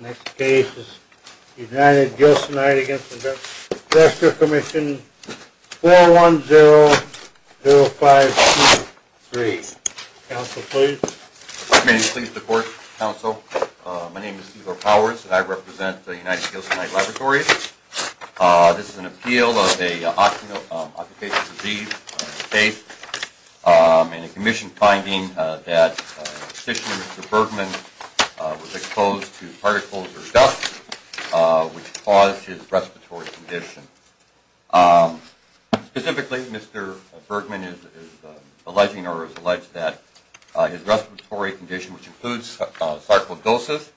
Next case is United Gilsonite against Investor Commission 410-0523. Counsel, please. May I please report, Counsel? My name is Igor Powers, and I represent the United Gilsonite Laboratories. This is an appeal of an occupational disease case and a commission finding that petitioner Mr. Bergman was exposed to particles or dust which caused his respiratory condition. Specifically, Mr. Bergman is alleging or has alleged that his respiratory condition, which includes sarcoidosis,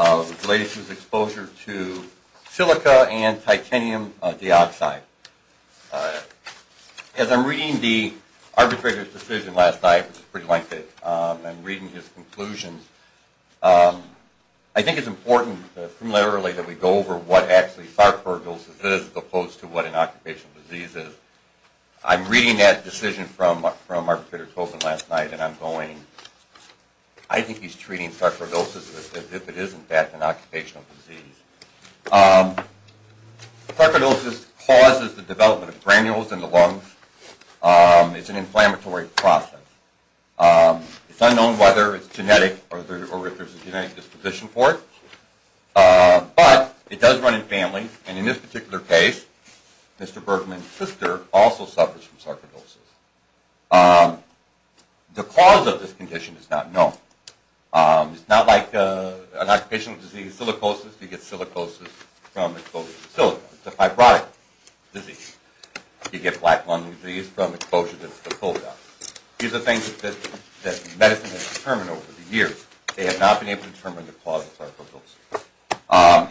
is related to his exposure to silica and titanium dioxide. As I'm reading the arbitrator's decision last night, which is pretty lengthy, I'm reading his conclusions. I think it's important that we go over what actually sarcoidosis is as opposed to what an occupational disease is. I'm reading that decision from Arbitrator Tobin last night, and I'm going, I think he's treating sarcoidosis as if it is in fact an occupational disease. Sarcoidosis causes the development of granules in the lungs. It's an inflammatory process. It's unknown whether it's genetic or if there's a genetic disposition for it, but it does run in families, and in this particular case, Mr. Bergman's sister also suffers from sarcoidosis. The cause of this condition is not known. It's not like an occupational disease, silicosis. You get silicosis from exposure to silicon. It's a fibrotic disease. You get black lung disease from exposure to silicon. These are things that medicine has determined over the years. They have not been able to determine the cause of sarcoidosis.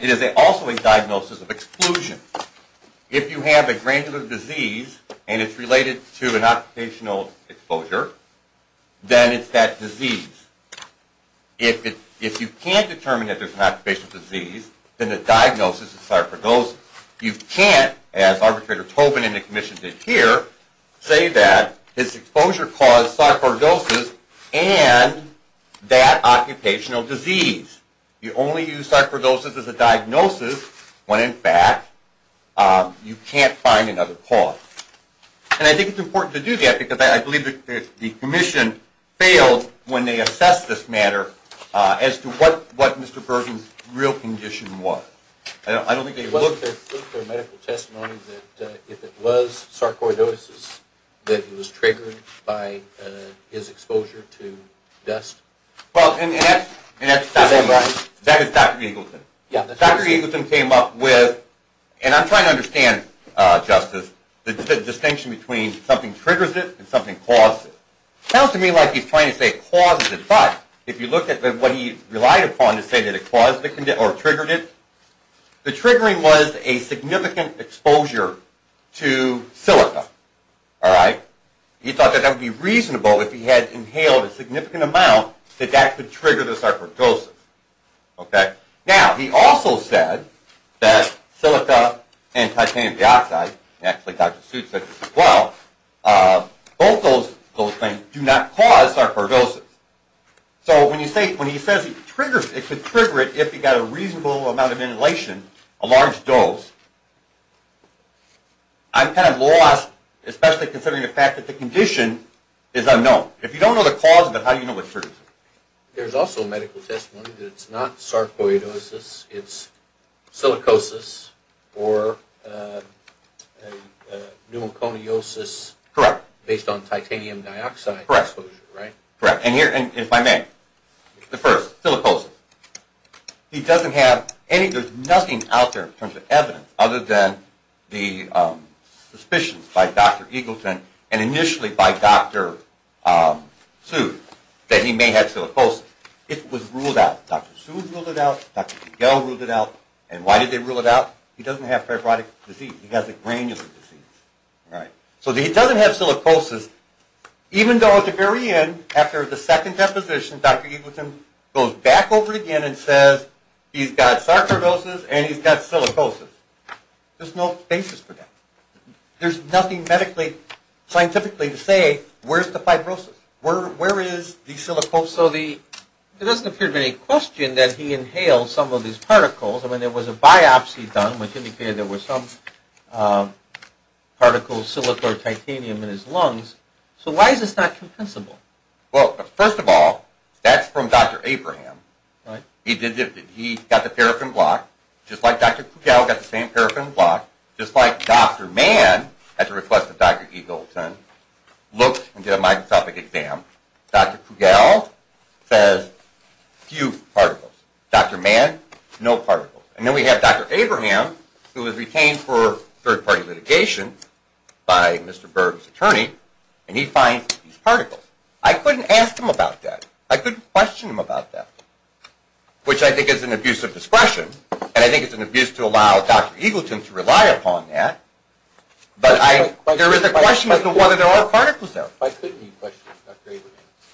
It is also a diagnosis of exclusion. If you have a granular disease and it's related to an occupational exposure, then it's that disease. If you can't determine that there's an occupational disease, then the diagnosis is sarcoidosis. You can't, as Arbitrator Tobin and the Commission did here, say that this exposure caused sarcoidosis and that occupational disease. You only use sarcoidosis as a diagnosis when, in fact, you can't find another cause. I think it's important to do that because I believe the Commission failed when they assessed this matter as to what Mr. Bergman's real condition was. I don't think they looked at... Was there medical testimony that if it was sarcoidosis that he was triggered by his exposure to dust? That is Dr. Eagleton. Dr. Eagleton came up with, and I'm trying to understand, Justice, the distinction between something triggers it and something causes it. It sounds to me like he's trying to say it causes it, but if you look at what he relied upon to say that it triggered it, the triggering was a significant exposure to silica. He thought that that would be reasonable if he had inhaled a significant amount that that could trigger the sarcoidosis. Now, he also said that silica and titanium dioxide, and actually Dr. Seuss said this as well, both those things do not cause sarcoidosis. So when he says it could trigger it if he got a reasonable amount of inhalation, a large dose, I'm kind of lost, especially considering the fact that the condition is unknown. If you don't know the cause of it, how do you know what triggers it? There's also medical testimony that it's not sarcoidosis, it's silicosis or pneumoconiosis based on titanium dioxide exposure, right? And if I may, the first, silicosis. He doesn't have any, there's nothing out there in terms of evidence other than the suspicions by Dr. Eagleton and initially by Dr. Seuss that he may have silicosis. It was ruled out. Dr. Seuss ruled it out. Dr. Pigel ruled it out. And why did they rule it out? He doesn't have fibrotic disease. He has a granular disease, right? So he doesn't have silicosis, even though at the very end, after the second deposition, Dr. Eagleton goes back over again and says he's got sarcoidosis and he's got silicosis. There's no basis for that. There's nothing medically, scientifically to say where's the fibrosis? Where is the silicosis? So there doesn't appear to be any question that he inhaled some of these particles. I mean, there was a biopsy done, which indicated there were some particles, silicon or titanium in his lungs. So why is this not compensable? Well, first of all, that's from Dr. Abraham. He got the paraffin block, just like Dr. Pigel got the same paraffin block, just like Dr. Mann, at the request of Dr. Eagleton, looked and did a microscopic exam. Dr. Pigel says, few particles. Dr. Mann, no particles. And then we have Dr. Abraham, who was retained for third-party litigation by Mr. Berg's attorney, and he finds these particles. I couldn't ask him about that. I couldn't question him about that, which I think is an abuse of discretion, and I think it's an abuse to allow Dr. Eagleton to rely upon that. But there is a question as to whether there are particles there. Why couldn't you question Dr. Abraham?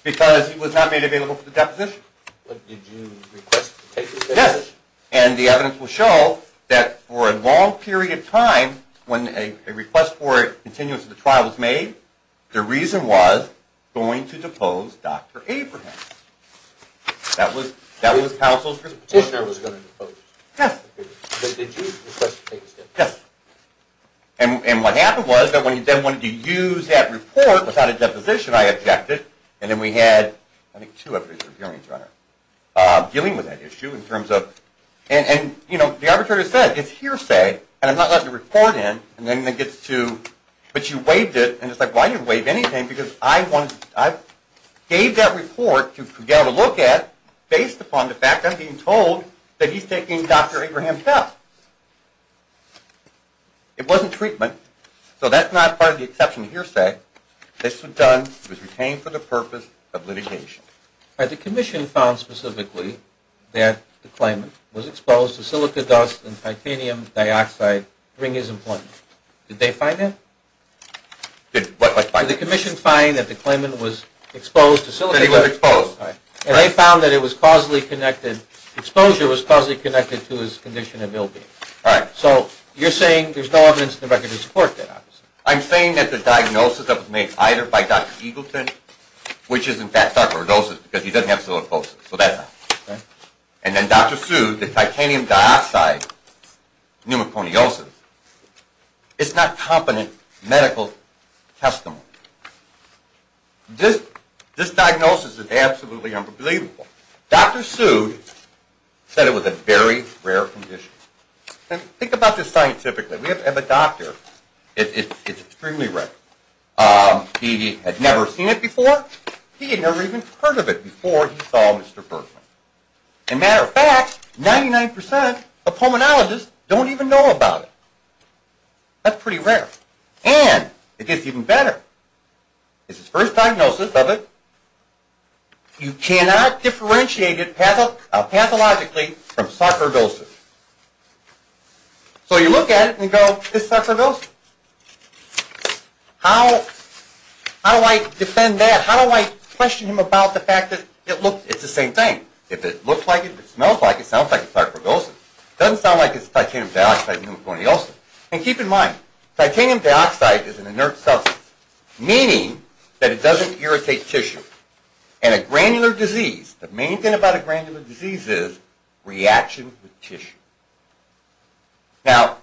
Because he was not made available for the deposition. But did you request to take his deposition? Yes. And the evidence will show that for a long period of time, when a request for a continuance of the trial was made, the reason was going to depose Dr. Abraham. That was counsel's response. The petitioner was going to depose. Yes. But did you request to take his deposition? Yes. And what happened was that when he then wanted to use that report without a deposition, I objected. And then we had, I think, two of us, a hearing trainer, dealing with that issue in terms of – and, you know, the arbitrator said, it's hearsay, and I'm not letting the report in, and then it gets to – but you waived it. And it's like, well, I didn't waive anything because I gave that report to get a look at based upon the fact I'm being told that he's taking Dr. Abraham's help. It wasn't treatment, so that's not part of the exception to hearsay. This was done, it was retained for the purpose of litigation. The commission found specifically that the claimant was exposed to silica dust and titanium dioxide during his employment. Did they find that? Did what? Did the commission find that the claimant was exposed to silica dust? That he was exposed. And they found that it was causally connected – exposure was causally connected to his condition of ill-being. Right. So you're saying there's no evidence in the record to support that, obviously. I'm saying that the diagnosis that was made either by Dr. Eagleton, which is in fact sarcoidosis because he doesn't have silicosis, so that's not it. And then Dr. Sood, the titanium dioxide pneumoconiosis, it's not competent medical testimony. This diagnosis is absolutely unbelievable. Dr. Sood said it was a very rare condition. Think about this scientifically. We have a doctor, it's extremely rare. He had never seen it before. He had never even heard of it before he saw Mr. Bergman. As a matter of fact, 99% of pulmonologists don't even know about it. That's pretty rare. And it gets even better. It's his first diagnosis of it. You cannot differentiate it pathologically from sarcoidosis. So you look at it and you go, this is sarcoidosis. How do I defend that? How do I question him about the fact that it's the same thing? If it looks like it, if it smells like it, it sounds like it's sarcoidosis. It doesn't sound like it's titanium dioxide pneumoconiosis. And keep in mind, titanium dioxide is an inert substance, meaning that it doesn't irritate tissue. And a granular disease, the main thing about a granular disease is reaction with tissue. Now,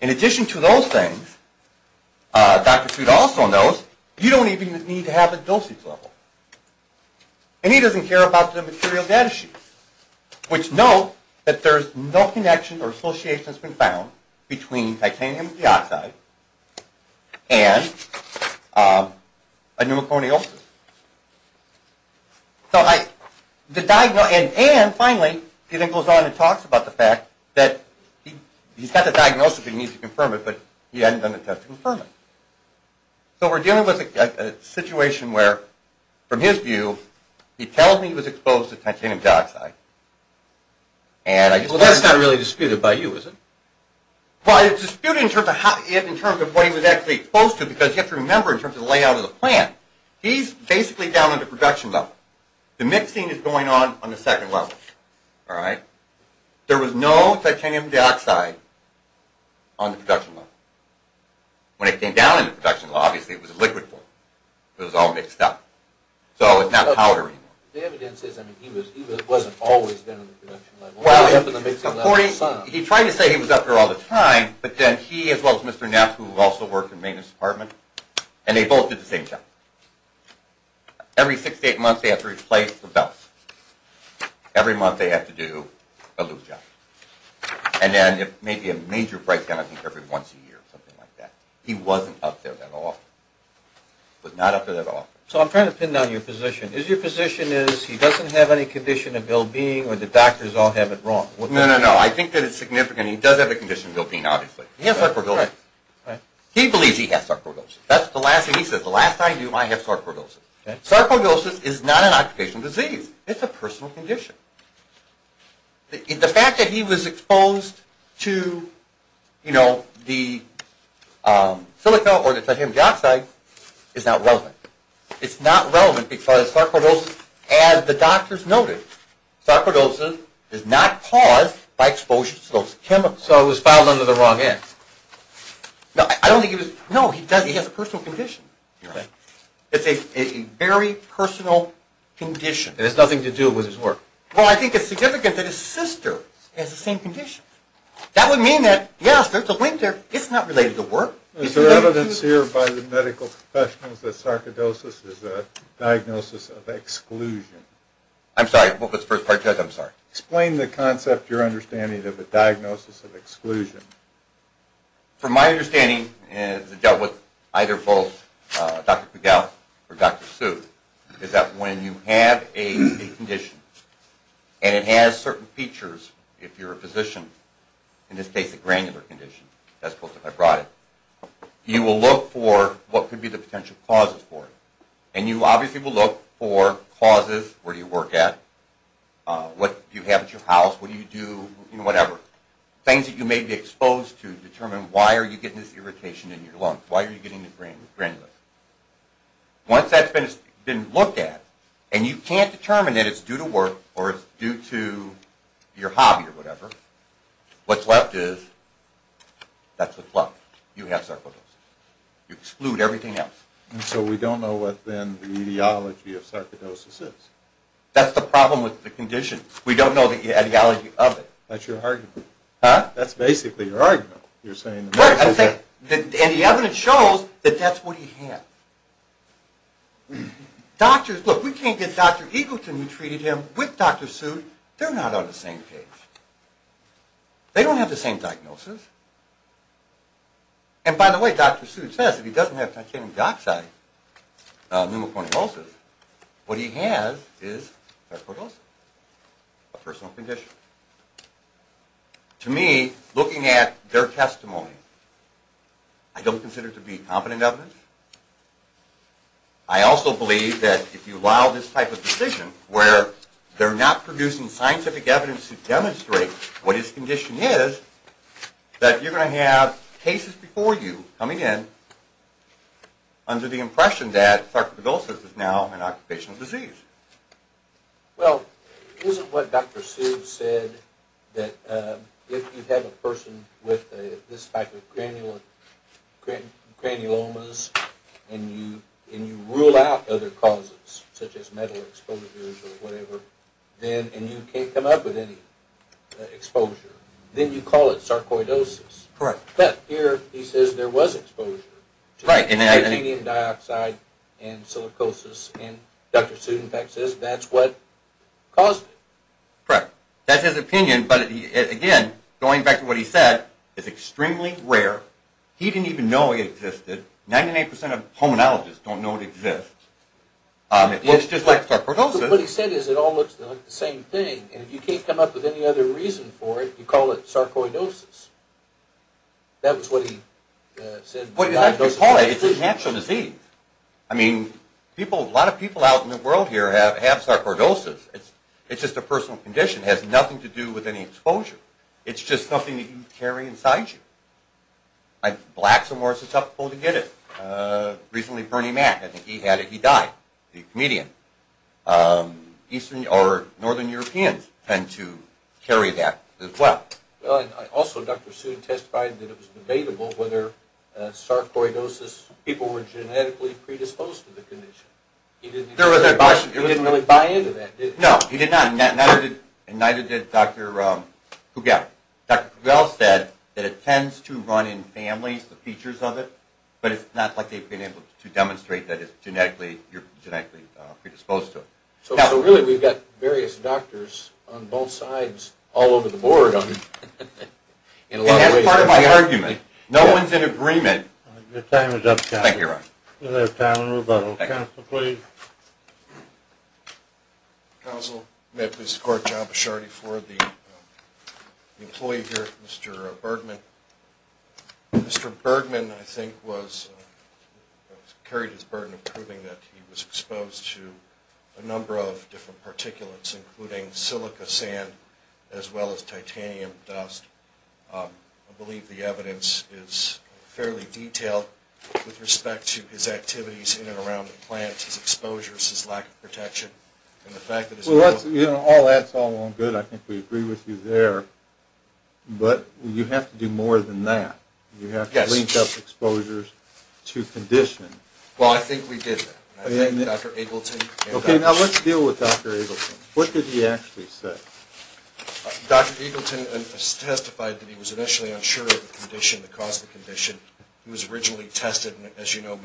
in addition to those things, Dr. Sood also knows you don't even need to have a dosage level. And he doesn't care about the material data sheets, which note that there's no connection or association that's been found between titanium dioxide and a pneumoconiosis. And finally, he then goes on and talks about the fact that he's got the diagnosis and he needs to confirm it, but he hasn't done a test to confirm it. So what we're dealing with is a situation where, from his view, he tells me he was exposed to titanium dioxide. Well, that's not really disputed by you, is it? Well, it's disputed in terms of what he was actually exposed to, because you have to remember in terms of the layout of the plant, he's basically down in the production level. The mixing is going on on the second level. There was no titanium dioxide on the production level. When it came down in the production level, obviously it was a liquid form. It was all mixed up. So it's not powder anymore. The evidence is that he wasn't always down in the production level. Well, he tried to say he was up there all the time, but then he, as well as Mr. Neff, who also worked in the maintenance department, and they both did the same job. Every six to eight months they had to replace the belts. Every month they had to do a little job. And then maybe a major breakdown, I think, every once a year or something like that. He wasn't up there that often. He was not up there that often. So I'm trying to pin down your position. Your position is he doesn't have any condition of ill-being, or the doctors all have it wrong. No, no, no. I think that it's significant. He does have a condition of ill-being, obviously. He has sarcoidosis. He believes he has sarcoidosis. That's the last thing he says. The last thing I do, I have sarcoidosis. Sarcoidosis is not an occupational disease. It's a personal condition. The fact that he was exposed to the silica or the titanium dioxide is not relevant. It's not relevant because sarcoidosis, as the doctors noted, sarcoidosis is not caused by exposure to those chemicals. So it was filed under the wrong end. No, I don't think he was. No, he doesn't. He has a personal condition. It's a very personal condition. It has nothing to do with his work. Well, I think it's significant that his sister has the same condition. That would mean that, yes, there's a link there. It's not related to work. Is there evidence here by the medical professionals that sarcoidosis is a diagnosis of exclusion? I'm sorry, what was the first part you had? I'm sorry. Explain the concept, your understanding, of a diagnosis of exclusion. From my understanding, and it's dealt with either both Dr. Pigalle or Dr. Suh, the truth is that when you have a condition and it has certain features, if you're a physician, in this case a granular condition, that's supposed to have brought it, you will look for what could be the potential causes for it. And you obviously will look for causes, where do you work at, what do you have at your house, what do you do, you know, whatever. Things that you may be exposed to determine why are you getting this irritation in your lungs, why are you getting this granular. Once that's been looked at, and you can't determine that it's due to work or it's due to your hobby or whatever, what's left is, that's what's left. You have sarcoidosis. You exclude everything else. And so we don't know what then the etiology of sarcoidosis is. That's the problem with the condition. We don't know the etiology of it. That's your argument. Huh? That's basically your argument. Wait a second. And the evidence shows that that's what he has. Doctors, look, we can't get Dr. Eagleton who treated him with Dr. Seuss, they're not on the same page. They don't have the same diagnosis. And by the way, Dr. Seuss says if he doesn't have titanium dioxide pneumocortisosis, what he has is sarcoidosis, a personal condition. To me, looking at their testimony, I don't consider it to be competent evidence. I also believe that if you allow this type of decision where they're not producing scientific evidence to demonstrate what his condition is, that you're going to have cases before you coming in under the impression that sarcoidosis is now an occupational disease. Well, isn't what Dr. Seuss said that if you have a person with this type of granulomas and you rule out other causes such as metal exposures or whatever, and you can't come up with any exposure, then you call it sarcoidosis. Correct. But here he says there was exposure to titanium dioxide and silicosis, and Dr. Seuss, in fact, says that's what caused it. Correct. That's his opinion, but again, going back to what he said, it's extremely rare. He didn't even know it existed. Ninety-eight percent of hominologists don't know it exists. It looks just like sarcoidosis. But what he said is it all looks like the same thing, and if you can't come up with any other reason for it, you call it sarcoidosis. That was what he said. Well, you have to call it. It's a natural disease. I mean, a lot of people out in the world here have sarcoidosis. It's just a personal condition. It has nothing to do with any exposure. It's just something that you carry inside you. Blacks are more susceptible to get it. Recently, Bernie Mac, I think he had it. He died. Eastern or northern Europeans tend to carry that as well. Also, Dr. Soon testified that it was debatable whether sarcoidosis, people were genetically predisposed to the condition. He didn't really buy into that, did he? No, he did not, and neither did Dr. Pugel. Dr. Pugel said that it tends to run in families, the features of it, but it's not like they've been able to demonstrate that you're genetically predisposed to it. So, really, we've got various doctors on both sides all over the board. And that's part of my argument. No one's in agreement. Your time is up, Counselor. Thank you, Ron. You may have time to move on. Counselor, please. Counsel, may I please record John Bichardi for the employee here, Mr. Bergman. Mr. Bergman, I think, carried his burden of proving that he was exposed to a number of different particulates, including silica sand as well as titanium dust. I believe the evidence is fairly detailed with respect to his activities in and around the plant, his exposures, his lack of protection, and the fact that his... Well, all that's all well and good. I think we agree with you there. But you have to do more than that. You have to link up exposures to condition. Well, I think we did that. I thank Dr. Eagleton. Okay, now let's deal with Dr. Eagleton. What did he actually say? Dr. Eagleton testified that he was initially unsure of the condition, the cause of the condition. He was originally tested. As you know,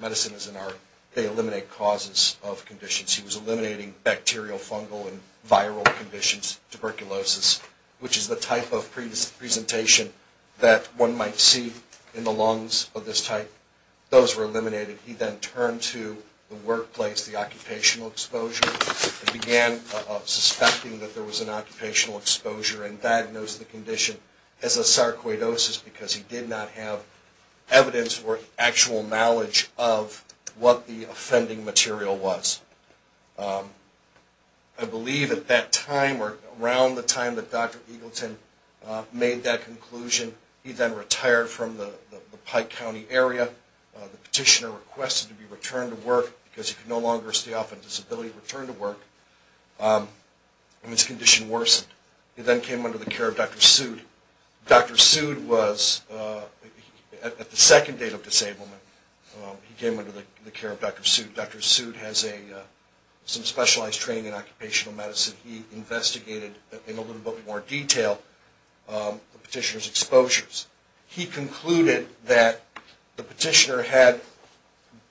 medicine is an art. They eliminate causes of conditions. He was eliminating bacterial, fungal, and viral conditions, tuberculosis, which is the type of presentation that one might see in the lungs of this type. Those were eliminated. He then turned to the workplace, the occupational exposure, and began suspecting that there was an occupational exposure and diagnosed the condition as a sarcoidosis because he did not have evidence or actual knowledge of what the offending material was. I believe at that time or around the time that Dr. Eagleton made that conclusion, he then retired from the Pike County area. The petitioner requested to be returned to work because he could no longer stay off on disability and return to work, and his condition worsened. He then came under the care of Dr. Sood. Dr. Sood was, at the second date of disablement, he came under the care of Dr. Sood. Dr. Sood has some specialized training in occupational medicine. He investigated in a little bit more detail the petitioner's exposures. He concluded that the petitioner had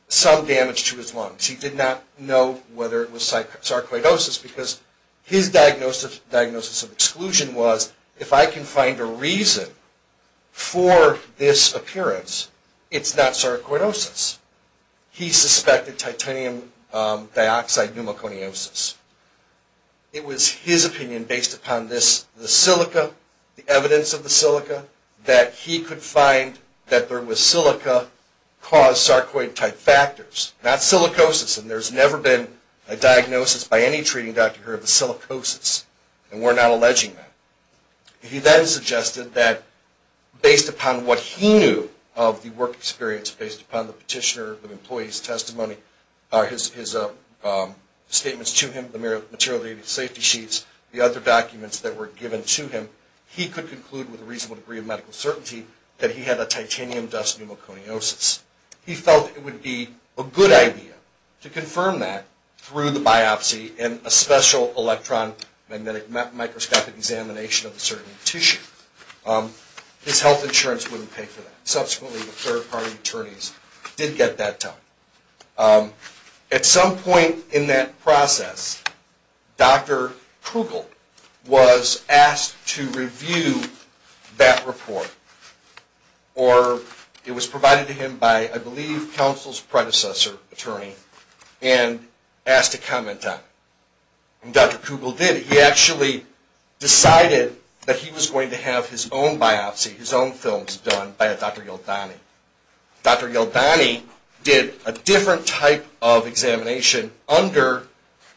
some damage to his lungs. He did not know whether it was sarcoidosis because his diagnosis of exclusion was, if I can find a reason for this appearance, it's not sarcoidosis. He suspected titanium dioxide pneumoconiosis. It was his opinion, based upon the silica, the evidence of the silica, that he could find that there was silica-caused sarcoid-type factors, not silicosis. And there's never been a diagnosis by any treating doctor of the silicosis, and we're not alleging that. He then suggested that, based upon what he knew of the work experience, based upon the petitioner, the employee's testimony, his statements to him, the material safety sheets, the other documents that were given to him, he could conclude with a reasonable degree of medical certainty that he had a titanium dust pneumoconiosis. He felt it would be a good idea to confirm that through the biopsy and a special electron-magnetic microscopic examination of a certain tissue. His health insurance wouldn't pay for that. Subsequently, the third-party attorneys did get that done. At some point in that process, Dr. Krugel was asked to review that report, or it was provided to him by, I believe, counsel's predecessor attorney, and asked to comment on it. And Dr. Krugel did. He actually decided that he was going to have his own biopsy, his own films done, by Dr. Yeldani. Dr. Yeldani did a different type of examination under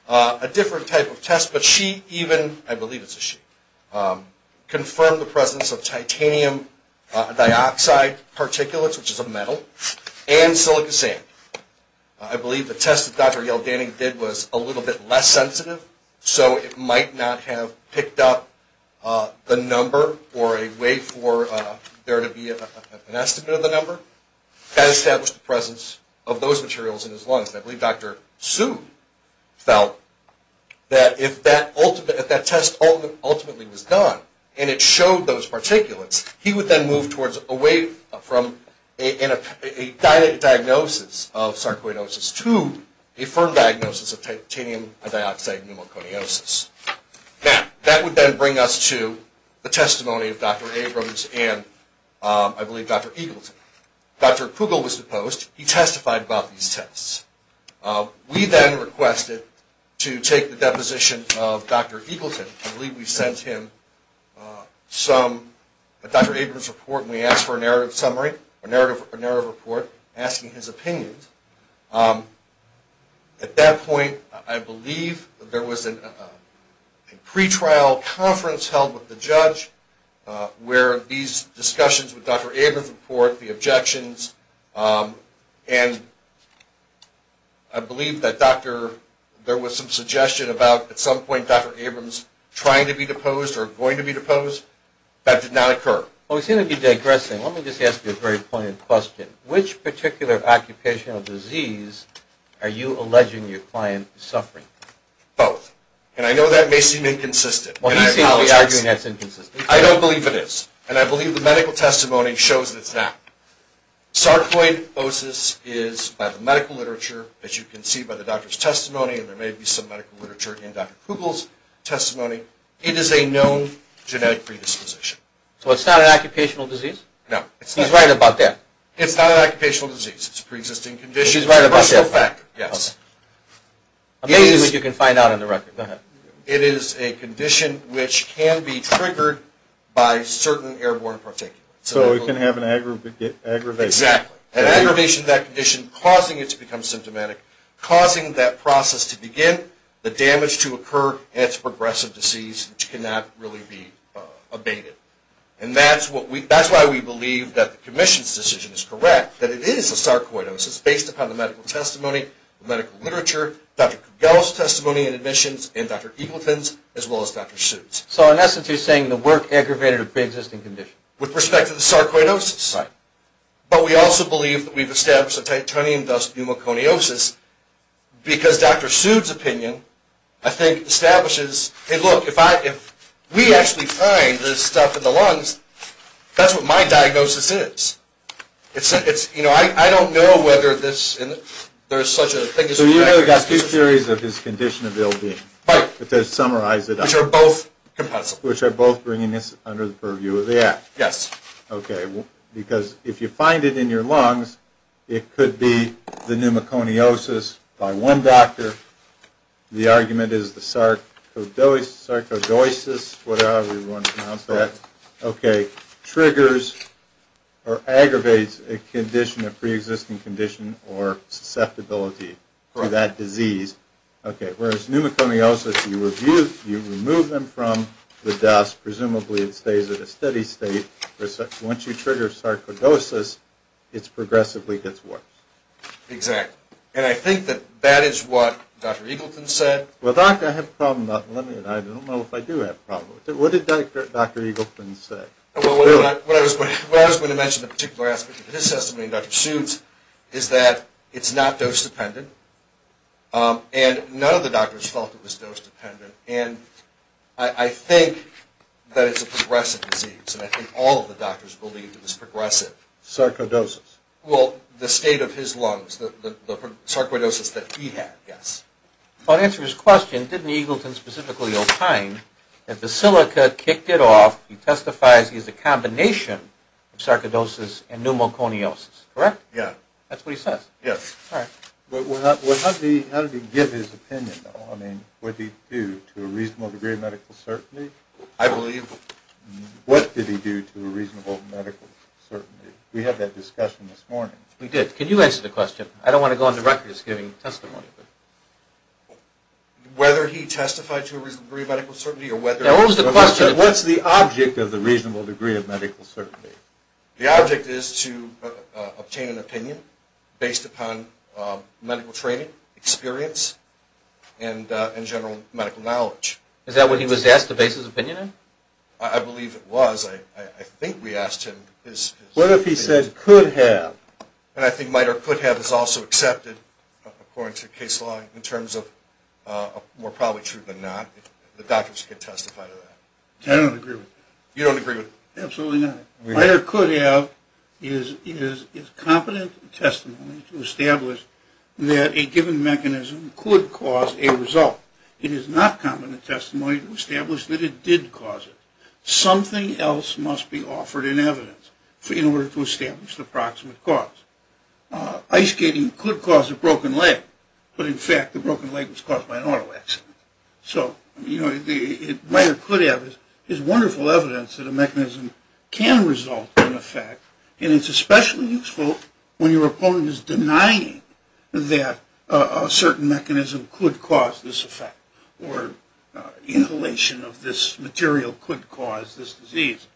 a different type of test, but she even, I believe it's a she, confirmed the presence of titanium dioxide particulates, which is a metal, and silica sand. I believe the test that Dr. Yeldani did was a little bit less sensitive, so it might not have picked up the number or a way for there to be an estimate of the number. That established the presence of those materials in his lungs. And I believe Dr. Su felt that if that test ultimately was done and it showed those particulates, he would then move away from a dilated diagnosis of sarcoidosis to a firm diagnosis of titanium dioxide pneumoconiosis. Now, that would then bring us to the testimony of Dr. Abrams and, I believe, Dr. Eagleton. Dr. Kugel was deposed. He testified about these tests. We then requested to take the deposition of Dr. Eagleton. I believe we sent him some, a Dr. Abrams report, and we asked for a narrative summary, a narrative report asking his opinions. At that point, I believe there was a pretrial conference held with the judge where these discussions with Dr. Abrams report, the objections, and I believe that there was some suggestion about, at some point, Dr. Abrams trying to be deposed or going to be deposed. That did not occur. Well, we seem to be digressing. Let me just ask you a very poignant question. Which particular occupational disease are you alleging your client is suffering from? Both, and I know that may seem inconsistent, and I apologize. I'm not really arguing that's inconsistent. I don't believe it is, and I believe the medical testimony shows that it's not. Sarcoidosis is, by the medical literature, as you can see by the doctor's testimony, and there may be some medical literature in Dr. Kugel's testimony, it is a known genetic predisposition. So it's not an occupational disease? No. He's right about that. It's not an occupational disease. It's a preexisting condition. He's right about that. Yes. Amazing that you can find out on the record. Go ahead. It is a condition which can be triggered by certain airborne particulates. So it can have an aggravation. Exactly. An aggravation of that condition causing it to become symptomatic, causing that process to begin, the damage to occur, and it's a progressive disease which cannot really be abated. And that's why we believe that the commission's decision is correct, that it is a sarcoidosis based upon the medical testimony, the medical literature, Dr. Kugel's testimony and admissions, and Dr. Eagleton's, as well as Dr. Sood's. So, in essence, you're saying the work aggravated a preexisting condition. With respect to the sarcoidosis. Right. But we also believe that we've established a titanium dust pneumoconiosis because Dr. Sood's opinion, I think, establishes, hey, look, if we actually find this stuff in the lungs, that's what my diagnosis is. It's, you know, I don't know whether this, there's such a thing. So you've got two theories of his condition of ill-being. Right. But to summarize it up. Which are both compulsive. Which are both bringing this under the purview of the act. Yes. Okay. Because if you find it in your lungs, it could be the pneumoconiosis by one doctor, the argument is the sarcoidosis, whatever you want to pronounce that. Okay. It triggers or aggravates a condition, a preexisting condition or susceptibility to that disease. Okay. Whereas pneumoconiosis, you remove them from the dust. Presumably it stays at a steady state. Once you trigger sarcoidosis, it progressively gets worse. Exactly. And I think that that is what Dr. Eagleton said. Well, doc, I have a problem. I don't know if I do have a problem. What did Dr. Eagleton say? Well, what I was going to mention, the particular aspect of his testimony and Dr. Suh's, is that it's not dose dependent. And none of the doctors felt it was dose dependent. And I think that it's a progressive disease. And I think all of the doctors believed it was progressive. Sarcoidosis. Well, the state of his lungs. The sarcoidosis that he had, yes. Well, to answer his question, didn't Eagleton specifically opine that the silica kicked it off, he testifies he has a combination of sarcoidosis and pneumoconiosis, correct? Yeah. That's what he says. Yes. All right. But how did he give his opinion, though? I mean, what did he do to a reasonable degree of medical certainty? I believe... What did he do to a reasonable medical certainty? We had that discussion this morning. We did. Can you answer the question? I don't want to go on the record as giving testimony. Whether he testified to a reasonable degree of medical certainty or whether... What's the object of the reasonable degree of medical certainty? The object is to obtain an opinion based upon medical training, experience, and general medical knowledge. Is that what he was asked to base his opinion on? I believe it was. I think we asked him. What if he said could have? And I think might or could have is also accepted, according to case law, in terms of more probably true than not. The doctors could testify to that. I don't agree with that. You don't agree with that? Absolutely not. Might or could have is competent testimony to establish that a given mechanism could cause a result. It is not competent testimony to establish that it did cause it. Something else must be offered in evidence in order to establish the proximate cause. Ice skating could cause a broken leg, but in fact the broken leg was caused by an auto accident. So, you know, might or could have is wonderful evidence that a mechanism can result in effect, and it's especially useful when your opponent is denying that a certain mechanism could cause this effect or inhalation of this material could cause this disease.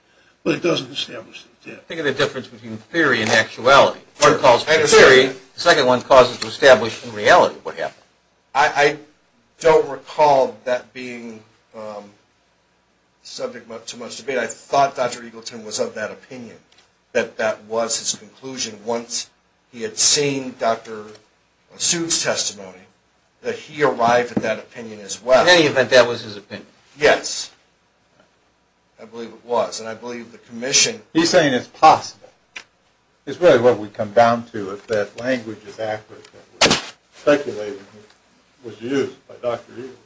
But it doesn't establish that it did. Think of the difference between theory and actuality. One calls for theory. The second one causes to establish in reality what happened. I don't recall that being subject to much debate. I thought Dr. Eagleton was of that opinion, that that was his conclusion once he had seen Dr. Suit's testimony, that he arrived at that opinion as well. In any event, that was his opinion. Yes. I believe it was. And I believe the commission... He's saying it's possible. It's really what we come down to, if that language is accurate, that was speculated, was used by Dr. Eagleton,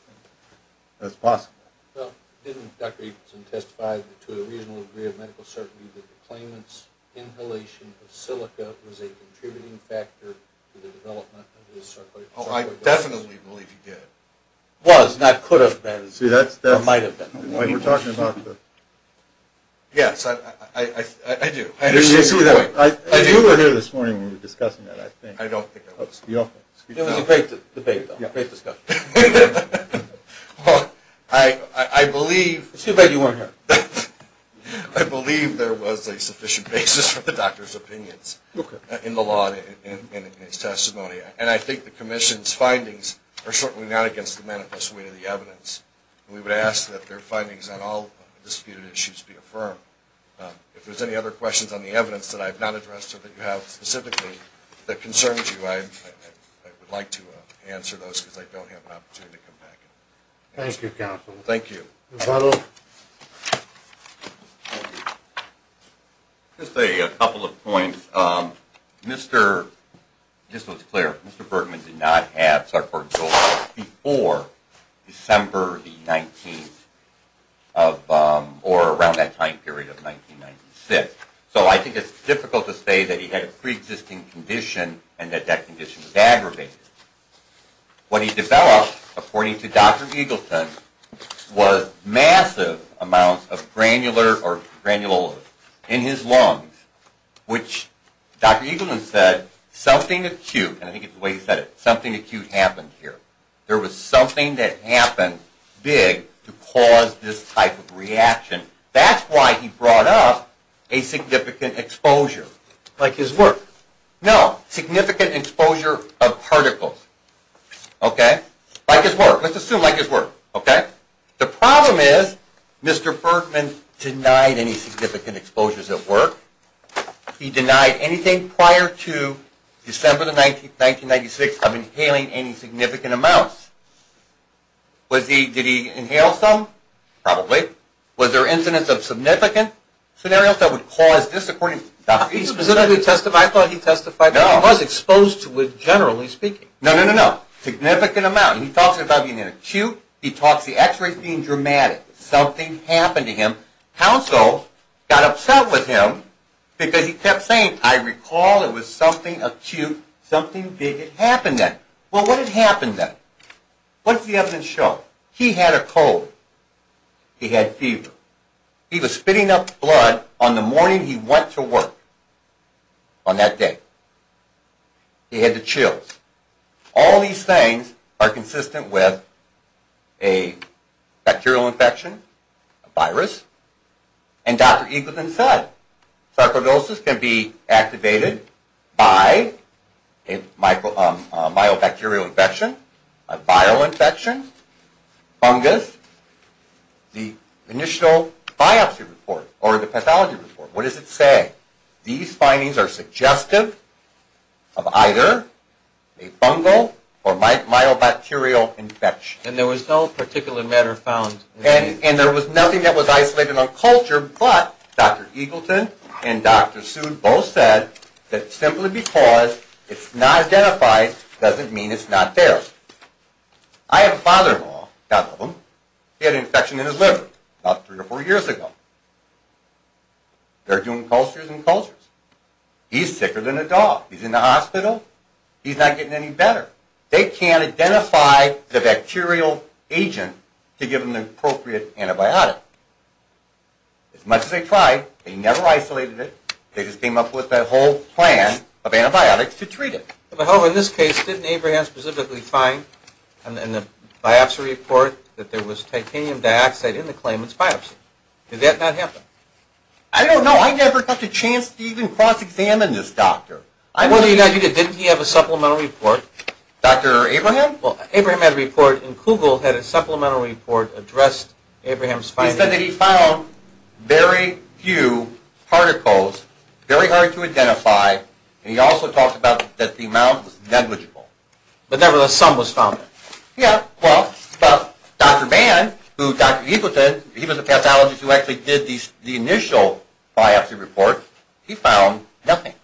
that it's possible. Well, didn't Dr. Eagleton testify to a reasonable degree of medical certainty that the claimant's inhalation of silica was a contributing factor to the development of his sarcoid... Oh, I definitely believe he did. Was, not could have been, or might have been. We're talking about the... Yes, I do. You were here this morning when we were discussing that, I think. I don't think I was. It was a great debate, though. Great discussion. I believe... It's too bad you weren't here. I believe there was a sufficient basis for the doctor's opinions in the law and in his testimony. And I think the commission's findings are certainly not against the manifest way of the evidence. We would ask that their findings on all disputed issues be affirmed. If there's any other questions on the evidence that I've not addressed or that you have specifically that concerns you, I would like to answer those because I don't have an opportunity to come back. Thank you, counsel. Thank you. Mr. Butler. Just a couple of points. Just so it's clear, Mr. Bergman did not have sarcoidosis before December the 19th or around that time period of 1996. So I think it's difficult to say that he had a preexisting condition and that that condition was aggravated. What he developed, according to Dr. Eagleton, was massive amounts of granular or granules in his lungs, which Dr. Eagleton said something acute, and I think it's the way he said it, something acute happened here. There was something that happened big to cause this type of reaction. That's why he brought up a significant exposure. Like his work? No, significant exposure of particles. Okay? Like his work. Let's assume like his work. Okay? The problem is Mr. Bergman denied any significant exposures at work. He denied anything prior to December the 19th, 1996, of inhaling any significant amounts. Did he inhale some? Probably. Was there incidence of significant scenarios that would cause this, according to Dr. Eagleton? I thought he testified that he was exposed to it, generally speaking. No, no, no, no. He talks about being acute. He talks the x-rays being dramatic. Something happened to him. Counsel got upset with him because he kept saying, I recall it was something acute, something big had happened then. Well, what had happened then? What does the evidence show? He had a cold. He had fever. He was spitting up blood on the morning he went to work on that day. He had the chills. All these things are consistent with a bacterial infection, a virus, and Dr. Eagleton said sarcoidosis can be activated by a myobacterial infection, a viral infection, fungus. The initial biopsy report or the pathology report, what does it say? These findings are suggestive of either a fungal or myobacterial infection. And there was no particular matter found? And there was nothing that was isolated on culture, but Dr. Eagleton and Dr. Seward both said that simply because it's not identified doesn't mean it's not there. I have a father-in-law, a couple of them. He had an infection in his liver about three or four years ago. They're doing cultures and cultures. He's sicker than a dog. He's in the hospital. He's not getting any better. They can't identify the bacterial agent to give them the appropriate antibiotic. As much as they tried, they never isolated it. They just came up with that whole plan of antibiotics to treat it. Well, in this case, didn't Abraham specifically find in the biopsy report that there was titanium dioxide in the claimant's biopsy? Did that not happen? I don't know. I never got the chance to even cross-examine this doctor. Didn't he have a supplemental report? Dr. Abraham? Well, Abraham had a report, and Kugel had a supplemental report addressed Abraham's findings. He said that he found very few particles, very hard to identify, and he also talked about that the amount was negligible. But nevertheless, some was found. Yeah, well, Dr. Mann, who Dr. Eagleton, he was the pathologist who actually did the initial biopsy report, he found nothing.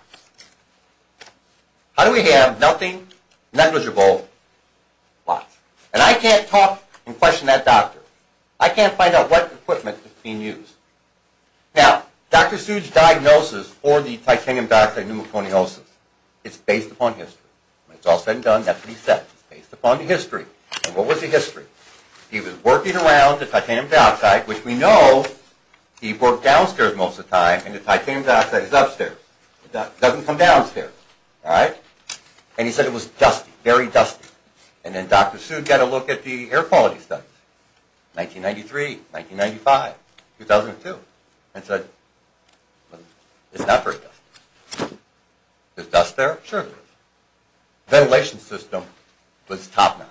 How do we have nothing negligible? Lots. And I can't talk and question that doctor. I can't find out what equipment is being used. Now, Dr. Seuss' diagnosis for the titanium dioxide pneumoconiosis is based upon history. It's all said and done. That's what he said. It's based upon the history. And what was the history? He was working around the titanium dioxide, which we know he worked downstairs most of the time, and the titanium dioxide is upstairs. It doesn't come downstairs, all right? And he said it was dusty, very dusty. And then Dr. Seuss got a look at the air quality studies, 1993, 1995, 2002, and said, well, it's not very dusty. Is dust there? Sure there is. Ventilation system was top-notch.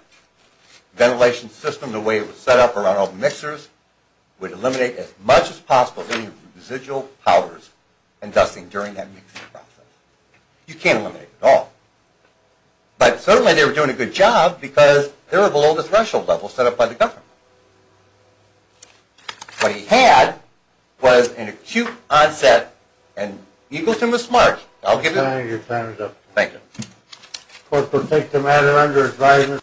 Ventilation system, the way it was set up around all the mixers, would eliminate as much as possible any residual powders and dusting during that mixing process. You can't eliminate it all. But certainly they were doing a good job because they were below the threshold level set up by the government. What he had was an acute onset, and Eagleton was smart. Thank you. Your time is up. Thank you.